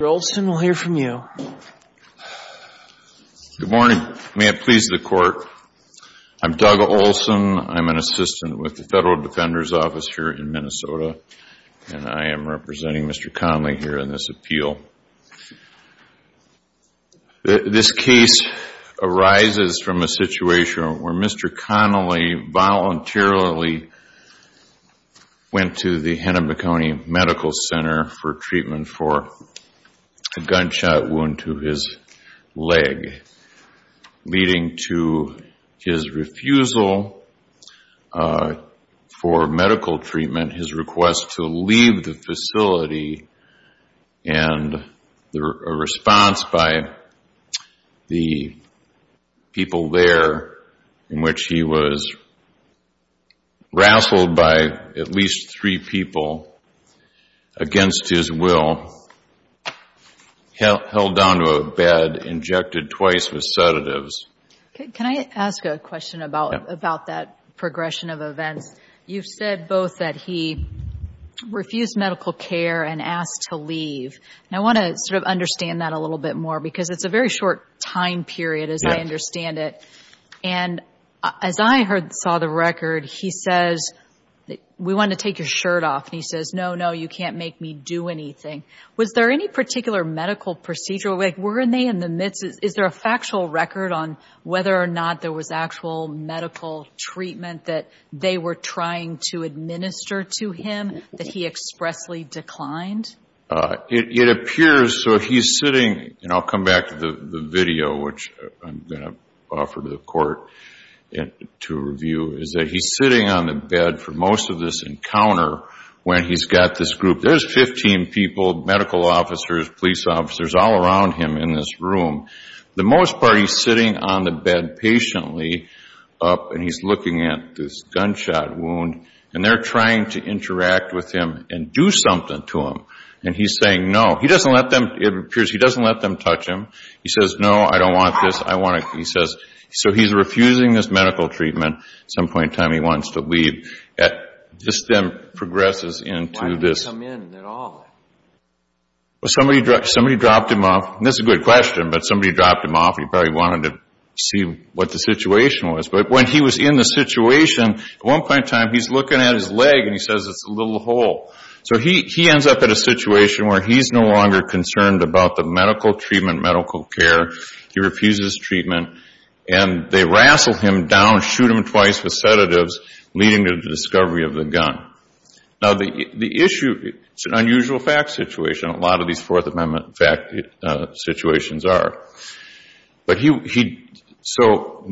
Mr. Olson, we'll hear from you. Good morning. May it please the Court, I'm Doug Olson. I'm an assistant with the Federal Defender's Office here in Minnesota, and I am representing Mr. Conley here in this appeal. This case arises from a situation where Mr. Conley voluntarily went to the Hennepin County Medical Center for treatment for a gunshot wound to his leg, leading to his refusal for medical treatment, his request to leave the facility, and a response by the people there in which he was rassled by at least three people against his will, held down to a bed, injected twice with sedatives. Okay. Can I ask a question about that progression of events? You've said both that he refused medical care and asked to leave, and I want to sort of understand that a little bit more because it's a very short time period as I understand it. And as I saw the record, he says, we want to take your shirt off, and he says, no, no, you can't make me do anything. Was there any particular medical procedure? Like, were they in the midst of, is there a factual record on whether or not there was actual medical treatment that they were trying to administer to him that he expressly declined? It appears so. He's sitting, and I'll come back to the video, which I'm going to offer to the court to review, is that he's sitting on the bed for most of this encounter when he's got this group. There's 15 people, medical officers, police officers, all around him in this room. The most part, he's sitting on the bed patiently up, and he's looking at this gunshot wound, and they're trying to interact with him and do something to him. And he's saying no. He doesn't let them, it appears he doesn't let them touch him. He says, no, I don't want this. I want to, he says, so he's refusing this medical treatment. Some point in time, he wants to leave. This then progresses into this. Why didn't he come in at all? Somebody dropped him off, and this is a good question, but somebody dropped him off, and when he was in the situation, at one point in time, he's looking at his leg, and he says it's a little hole. So he ends up in a situation where he's no longer concerned about the medical treatment, medical care. He refuses treatment, and they rassle him down, shoot him twice with sedatives, leading to the discovery of the gun. Now, the issue, it's an unusual fact situation. A lot of these Fourth Amendment fact situations are. But he, so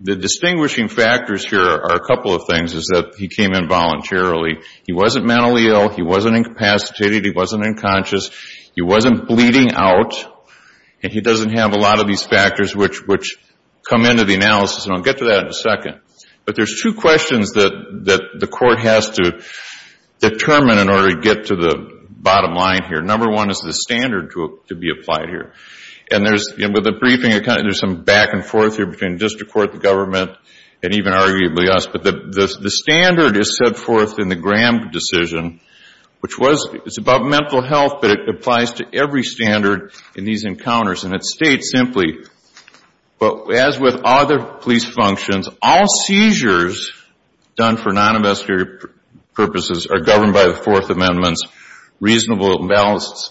the distinguishing factors here are a couple of things, is that he came in voluntarily. He wasn't mentally ill. He wasn't incapacitated. He wasn't unconscious. He wasn't bleeding out. And he doesn't have a lot of these factors, which come into the analysis, and I'll get to that in a second. But there's two questions that the court has to determine in order to get to the bottom line here. Number one is the standard to be applied here. And there's, you know, with the briefing, there's some back and forth here between district court, the government, and even arguably us. But the standard is set forth in the Graham decision, which was, it's about mental health, but it applies to every standard in these encounters. And it states simply, but as with other police functions, all seizures done for non-ambulatory purposes are governed by the Fourth Amendment's reasonable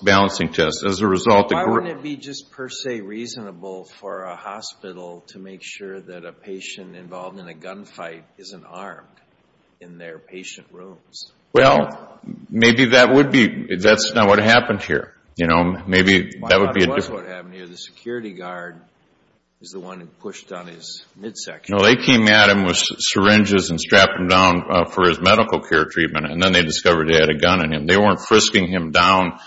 balancing test. As a result, the group... Why wouldn't it be just per se reasonable for a hospital to make sure that a patient involved in a gunfight isn't armed in their patient rooms? Well, maybe that would be, that's not what happened here. You know, maybe that would be a different... Well, I thought it was what happened here. The security guard is the one who pushed on his midsection. No, they came at him with syringes and strapped him down for his medical care treatment, and then they discovered he had a gun in him. They weren't frisking him down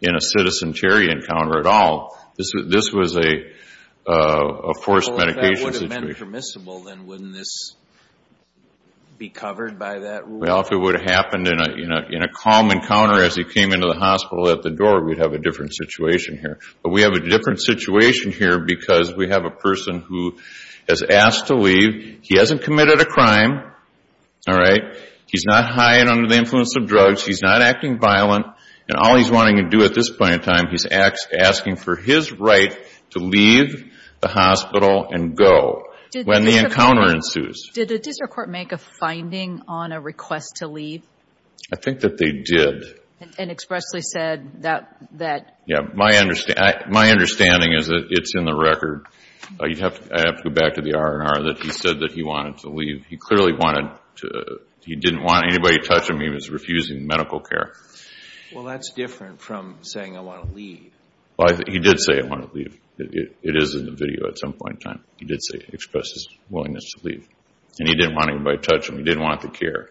in a citizen carry encounter at all. This was a forced medication situation. Well, if that would have been permissible, then wouldn't this be covered by that rule? Well, if it would have happened in a calm encounter as he came into the hospital at the door, we'd have a different situation here. But we have a different situation here because we have a person who has asked to leave. He hasn't committed a crime. All right? He's not high and under the influence of drugs. He's not acting violent. And all he's wanting to do at this point in time, he's asking for his right to leave the hospital and go when the encounter ensues. Did the district court make a finding on a request to leave? I think that they did. And expressly said that... Yeah. My understanding is that it's in the record. I'd have to go back to the R&R that he said that he wanted to leave. He clearly wanted to... He didn't want anybody to touch him. He was refusing medical care. Well, that's different from saying, I want to leave. He did say, I want to leave. It is in the video at some point in time. He did express his willingness to leave. And he didn't want anybody to touch him. He didn't want the care.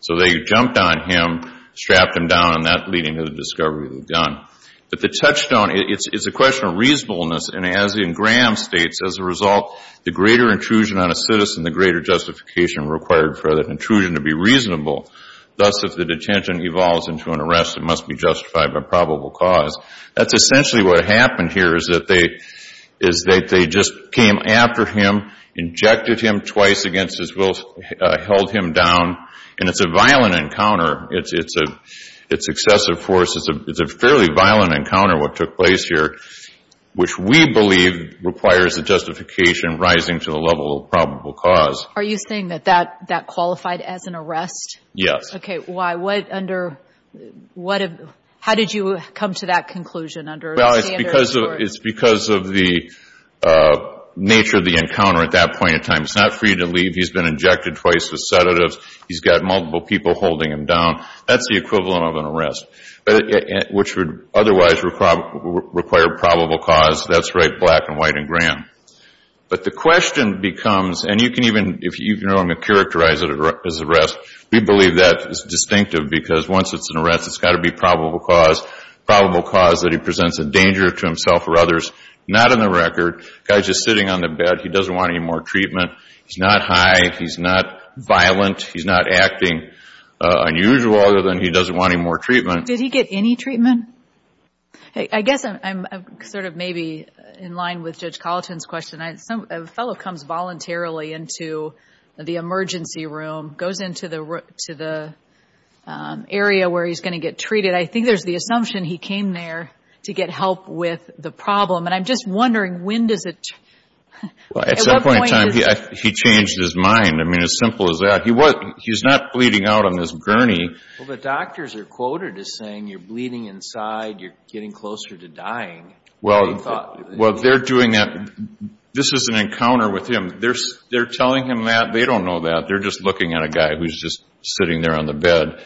So they jumped on him, strapped him down, and that leading to the discovery of the gun. But the touchstone, it's a question of reasonableness. And as in Graham states, as a result, the greater intrusion on a citizen, the greater justification required for that intrusion to be reasonable. Thus, if the detention evolves into an arrest, it must be justified by probable cause. That's essentially what happened here is that they just came after him, injected him twice against his will, held him down. And it's a violent encounter. It's excessive force. It's a fairly violent encounter, what took place here, which we believe requires a justification rising to the level of probable cause. Are you saying that that qualified as an arrest? Yes. Okay. Why? What under, how did you come to that conclusion under the standard? It's because of the nature of the encounter at that point in time. It's not free to leave. He's been injected twice with sedatives. He's got multiple people holding him down. That's the equivalent of an arrest, which would otherwise require probable cause. That's right, black and white and Graham. But the question becomes, and you can even, if you know him, characterize it as arrest. We believe that is distinctive because once it's an arrest, it's got to be probable cause. Probable cause that he presents a danger to himself or others. Not in the record. Guy's just sitting on the bed. He doesn't want any more treatment. He's not high. He's not violent. He's not acting unusual other than he doesn't want any more treatment. Did he get any treatment? I guess I'm sort of maybe in line with Judge Colleton's question. A fellow comes voluntarily into the emergency room, goes into the area where he's going to get treated. I think there's the assumption he came there to get help with the problem. And I'm just wondering when does it, at what point does it? He changed his mind. I mean, as simple as that. He's not bleeding out on this gurney. Well, the doctors are quoted as saying you're bleeding inside. You're getting closer to dying. Well, they're doing that. This is an encounter with him. They're telling him that. They don't know that. They're just looking at a guy who's just sitting there on the bed.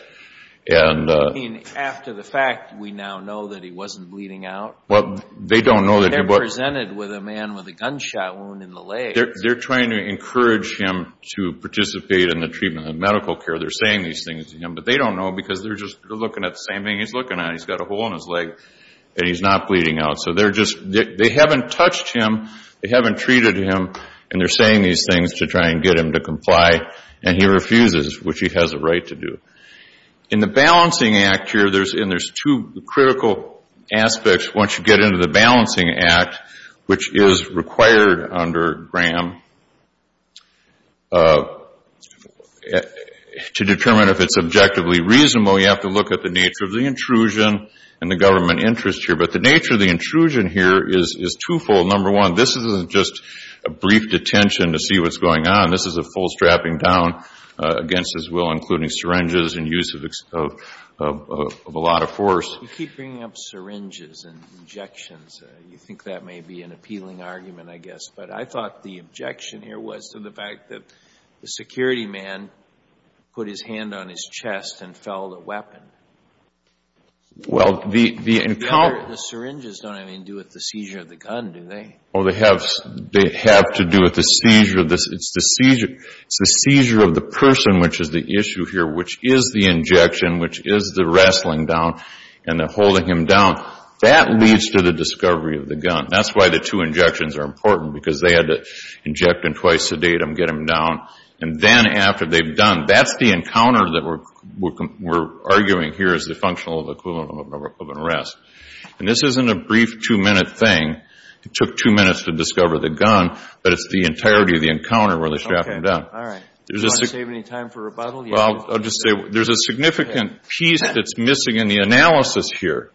After the fact, we now know that he wasn't bleeding out? They don't know that he was. They're presented with a man with a gunshot wound in the leg. They're trying to encourage him to participate in the treatment of medical care. They're saying these things to him, but they don't know because they're just looking at the same thing he's looking at. He's got a hole in his leg, and he's not bleeding out. So they haven't touched him. They haven't treated him, and they're saying these things to try and get him to comply. And he refuses, which he has a right to do. In the Balancing Act here, there's two critical aspects once you get into the Balancing Act, which is required under Graham to determine if it's objectively reasonable. You have to look at the nature of the intrusion and the government interest here. But the nature of the intrusion here is twofold. Number one, this isn't just a brief detention to see what's going on. This is a full strapping down against his will, including syringes and use of a lot of force. You keep bringing up syringes and injections. You think that may be an appealing argument, I guess. But I thought the objection here was to the fact that the security man put his hand on his chest and fell the weapon. Well, the encounter... The syringes don't even do with the seizure of the gun, do they? Oh, they have to do with the seizure. It's the seizure of the person, which is the issue here, which is the injection, which is the wrestling down. And they're holding him down. That leads to the discovery of the gun. That's why the two injections are important, because they had to inject and twice sedate him, get him down. And then after they've done, that's the encounter that we're arguing here is the functional equivalent of an arrest. And this isn't a brief two-minute thing. It took two minutes to discover the gun. But it's the entirety of the encounter where they strap him down. Okay. All right. Do you want to save any time for rebuttal? I'll just say there's a significant piece that's missing in the analysis here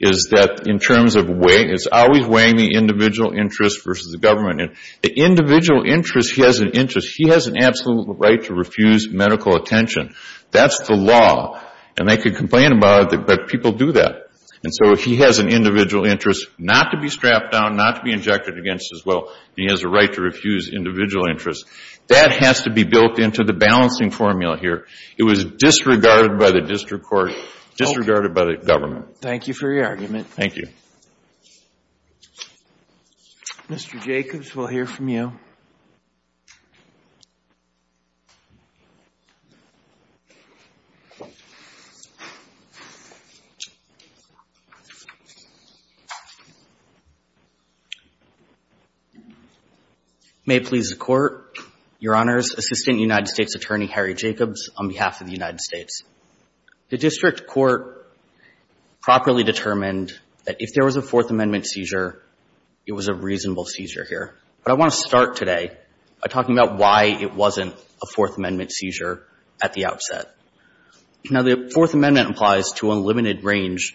is that in terms of weight, it's always weighing the individual interest versus the government. And the individual interest, he has an interest. He has an absolute right to refuse medical attention. That's the law. And they could complain about it, but people do that. And so he has an individual interest not to be strapped down, not to be injected against as well. He has a right to refuse individual interest. That has to be built into the balancing formula here. It was disregarded by the district court, disregarded by the government. Okay. Thank you for your argument. Thank you. Mr. Jacobs, we'll hear from you. May it please the Court. Your Honors, Assistant United States Attorney Harry Jacobs on behalf of the United States. The district court properly determined that if there was a Fourth Amendment seizure, it was a reasonable seizure here. But I want to start today. By talking about why it wasn't a Fourth Amendment seizure at the outset. Now the Fourth Amendment applies to a limited range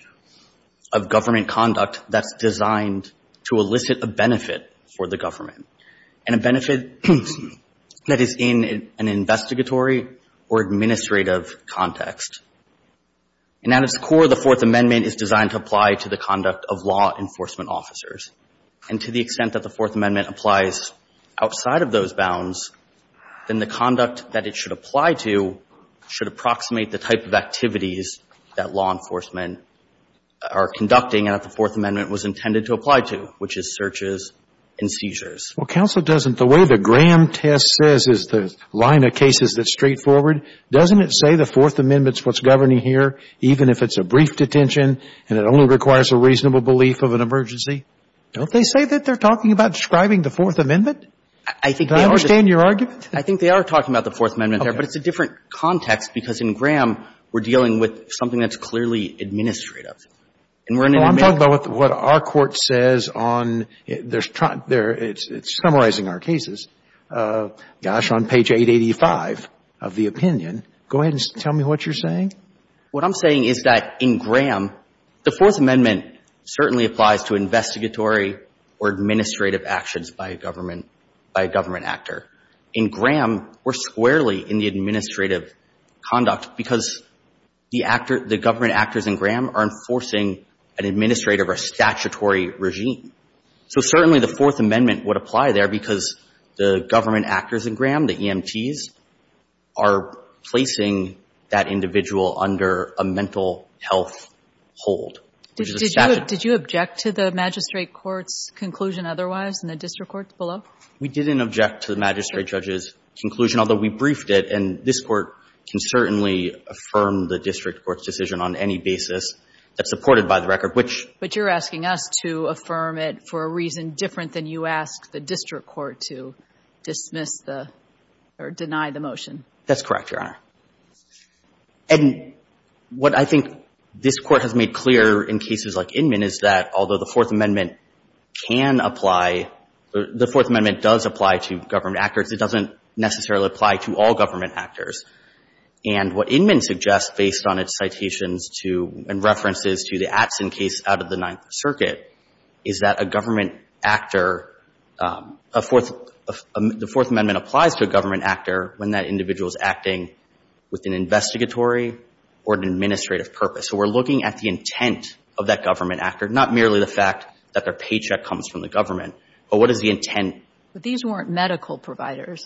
of government conduct that's designed to elicit a benefit for the government. And a benefit that is in an investigatory or administrative context. And at its core, the Fourth Amendment is designed to apply to the conduct of law enforcement officers. And to the extent that the Fourth Amendment applies outside of those bounds, then the conduct that it should apply to should approximate the type of activities that law enforcement are conducting and that the Fourth Amendment was intended to apply to. Which is searches and seizures. Well, counsel, doesn't the way the Graham test says is the line of cases that's straightforward. Doesn't it say the Fourth Amendment's what's governing here even if it's a brief detention and it only requires a reasonable belief of an emergency? Don't they say that they're talking about describing the Fourth Amendment? I think they are. Do I understand your argument? I think they are talking about the Fourth Amendment there. But it's a different context. Because in Graham, we're dealing with something that's clearly administrative. And we're in an American country. Well, I'm talking about what our Court says on their struct there. It's summarizing our cases. Gosh, on page 885 of the opinion. Go ahead and tell me what you're saying. What I'm saying is that in Graham, the Fourth Amendment certainly applies to investigatory or administrative actions by a government actor. In Graham, we're squarely in the administrative conduct because the government actors in Graham are enforcing an administrative or statutory regime. So certainly the Fourth Amendment would apply there because the government under a mental health hold. Did you object to the magistrate court's conclusion otherwise in the district court below? We didn't object to the magistrate judge's conclusion, although we briefed it. And this court can certainly affirm the district court's decision on any basis that's supported by the record, which... But you're asking us to affirm it for a reason different than you ask the district That's correct, Your Honor. And what I think this Court has made clear in cases like Inman is that although the Fourth Amendment can apply, the Fourth Amendment does apply to government actors, it doesn't necessarily apply to all government actors. And what Inman suggests based on its citations to and references to the Atzin case out of the Ninth Circuit is that a government actor, a Fourth, the Fourth Amendment applies to a government actor when that individual is acting with an investigatory or an administrative purpose. So we're looking at the intent of that government actor, not merely the fact that their paycheck comes from the government, but what is the intent? But these weren't medical providers.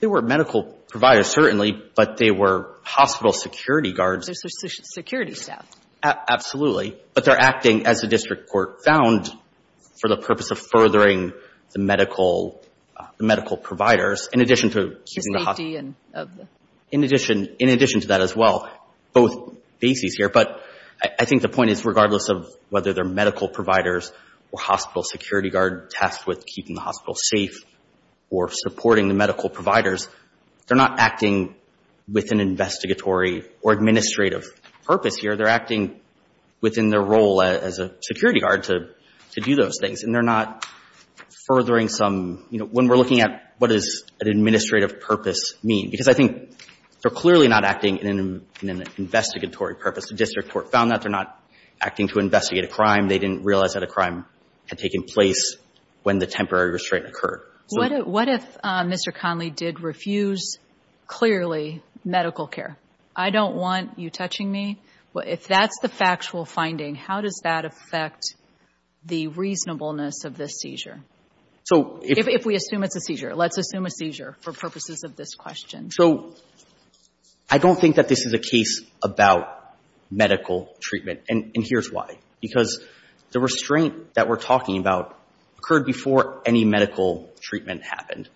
They weren't medical providers, certainly, but they were hospital security guards. They're security staff. Absolutely. But they're acting, as the district court found, for the purpose of furthering the medical providers, in addition to keeping the hospital safe, in addition to that as well, both bases here. But I think the point is, regardless of whether they're medical providers or hospital security guard tasked with keeping the hospital safe or supporting the medical providers, they're not acting with an investigatory or administrative purpose here. They're acting within their role as a security guard to do those things. And they're not furthering some – when we're looking at what does an administrative purpose mean? Because I think they're clearly not acting in an investigatory purpose. The district court found that. They're not acting to investigate a crime. They didn't realize that a crime had taken place when the temporary restraint occurred. What if Mr. Conley did refuse, clearly, medical care? I don't want you touching me. If that's the factual finding, how does that affect the reasonableness of this seizure? If we assume it's a seizure. Let's assume a seizure for purposes of this question. So I don't think that this is a case about medical treatment. And here's why. Because the restraint that we're talking about occurred before any medical treatment happened.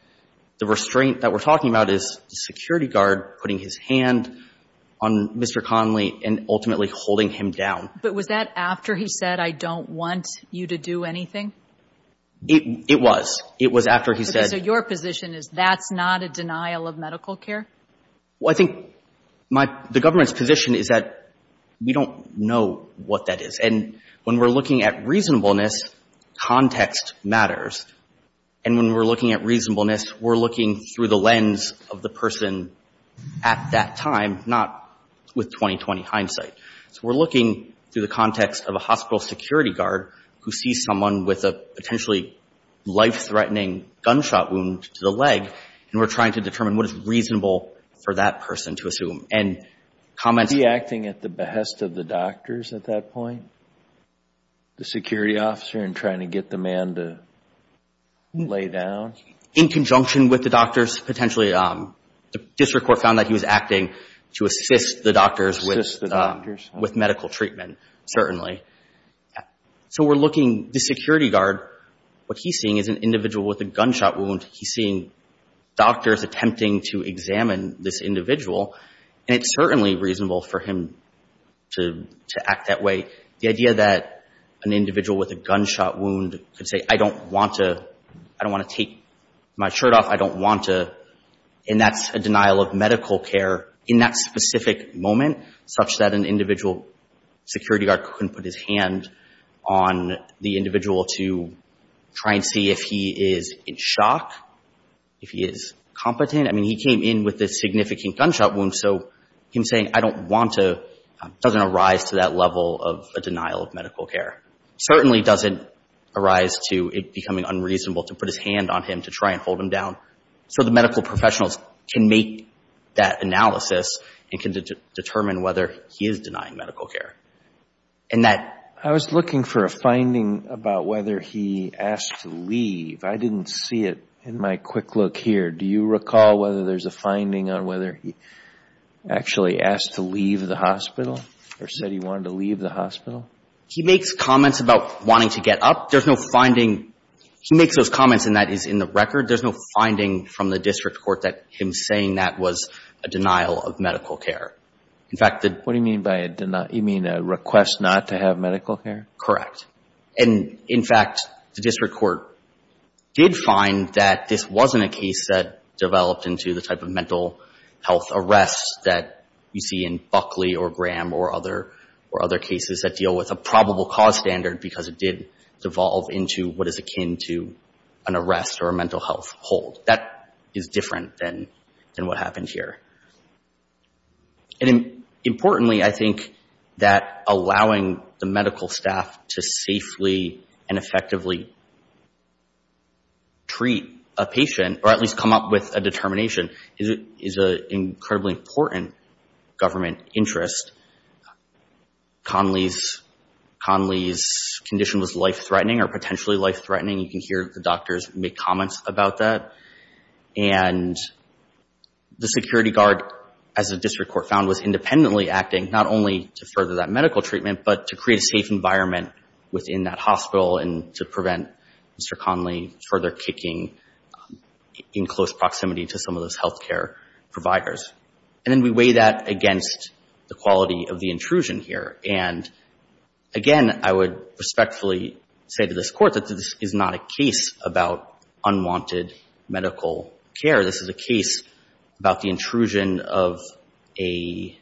The restraint that we're talking about is the security guard putting his hand on Mr. Conley, ultimately holding him down. But was that after he said, I don't want you to do anything? It was. It was after he said – So your position is that's not a denial of medical care? Well, I think my – the government's position is that we don't know what that is. And when we're looking at reasonableness, context matters. And when we're looking at reasonableness, we're looking through the lens of the person at that time, not with 20-20 hindsight. So we're looking through the context of a hospital security guard who sees someone with a potentially life-threatening gunshot wound to the leg, and we're trying to determine what is reasonable for that person to assume. And comments – Was he acting at the behest of the doctors at that point, the security officer, and trying to get the man to lay down? In conjunction with the doctors, potentially. The district court found that he was acting to assist the doctors with medical treatment, certainly. So we're looking – the security guard, what he's seeing is an individual with a gunshot wound. He's seeing doctors attempting to examine this individual, and it's certainly reasonable for him to act that way. The idea that an individual with a gunshot wound could say, I don't want to – I don't want to take my shirt off, I don't want to – and that's a denial of medical care in that specific moment, such that an individual security guard couldn't put his hand on the individual to try and see if he is in shock, if he is competent. I mean, he came in with a significant gunshot wound, so him saying, I don't want to doesn't arise to that level of a denial of medical care. Certainly doesn't arise to it becoming unreasonable to put his hand on him, to try and hold him down. So the medical professionals can make that analysis, and can determine whether he is denying medical care. And that – I was looking for a finding about whether he asked to leave. I didn't see it in my quick look here. Do you recall whether there's a finding on whether he actually asked to leave the hospital, or said he wanted to leave the hospital? He makes comments about wanting to get up. There's no finding – he makes those comments and that is in the record. There's no finding from the district court that him saying that was a denial of medical care. In fact, the – What do you mean by a denial? You mean a request not to have medical care? Correct. And in fact, the district court did find that this wasn't a case that or other cases that deal with a probable cause standard, because it did devolve into what is akin to an arrest or a mental health hold. That is different than what happened here. And importantly, I think that allowing the medical staff to safely and effectively treat a patient, or at least come up with a determination, is an incredibly important government interest. Conley's condition was life-threatening or potentially life-threatening. You can hear the doctors make comments about that. And the security guard, as the district court found, was independently acting not only to further that medical treatment, but to create a safe environment within that hospital and to prevent Mr. Conley further kicking in close proximity to some of those health care providers. And then we weigh that against the quality of the intrusion here. And again, I would respectfully say to this Court that this is not a case about unwanted medical care. This is a case about the intrusion of a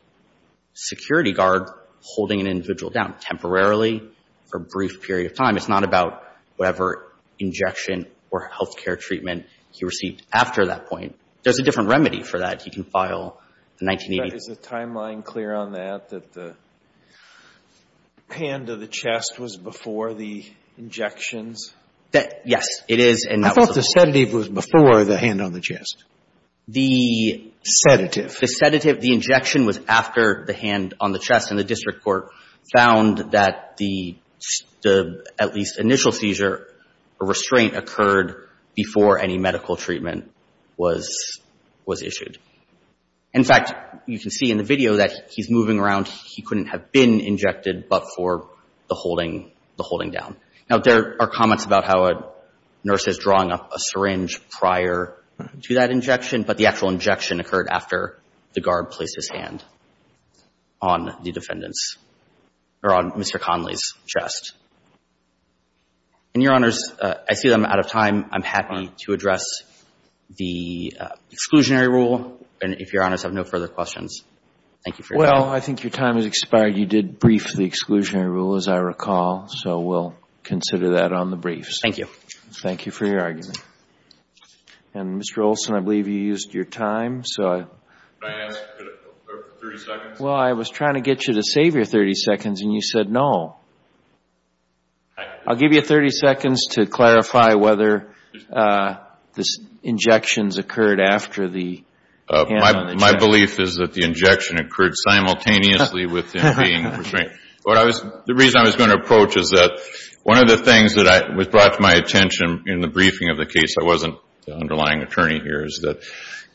security guard holding an individual down temporarily for a brief period of time. It's not about whatever injection or health care treatment he received after that point. There's a different remedy for that. You can file the 1980s. Is the timeline clear on that, that the hand of the chest was before the injections? Yes, it is. I thought the sedative was before the hand on the chest. The sedative. The sedative. The injection was after the hand on the chest. The District Court found that the at least initial seizure, a restraint occurred before any medical treatment was issued. In fact, you can see in the video that he's moving around. He couldn't have been injected but for the holding down. Now, there are comments about how a nurse is drawing up a syringe prior to that injection. But the actual injection occurred after the guard placed his hand on the defendant's or on Mr. Conley's chest. And, Your Honors, I see that I'm out of time. I'm happy to address the exclusionary rule. And if Your Honors have no further questions, thank you for your time. Well, I think your time has expired. You did brief the exclusionary rule, as I recall. So we'll consider that on the briefs. Thank you. Thank you for your argument. And, Mr. Olson, I believe you used your time. Can I ask for 30 seconds? Well, I was trying to get you to save your 30 seconds and you said no. I'll give you 30 seconds to clarify whether the injections occurred after the hand on the chest. My belief is that the injection occurred simultaneously with him being restrained. The reason I was going to approach is that one of the things that was brought to my attention in the briefing of the case, I wasn't the underlying attorney here, is that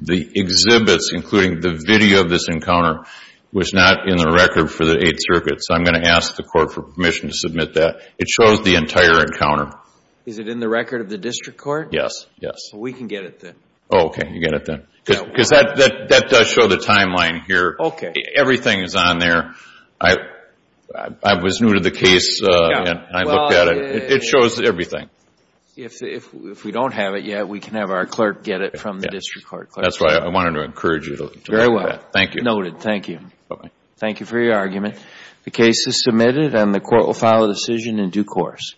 the exhibits, including the video of this encounter, was not in the record for the Eighth Circuit. So I'm going to ask the court for permission to submit that. It shows the entire encounter. Is it in the record of the district court? Yes. Yes. So we can get it then. Oh, okay. You get it then. Because that does show the timeline here. Okay. Everything is on there. I was new to the case and I looked at it. It shows everything. If we don't have it yet, we can have our clerk get it from the district court. That's why I wanted to encourage you. Very well. Thank you. Noted. Thank you. Thank you for your argument. The case is submitted and the court will file a decision in due course.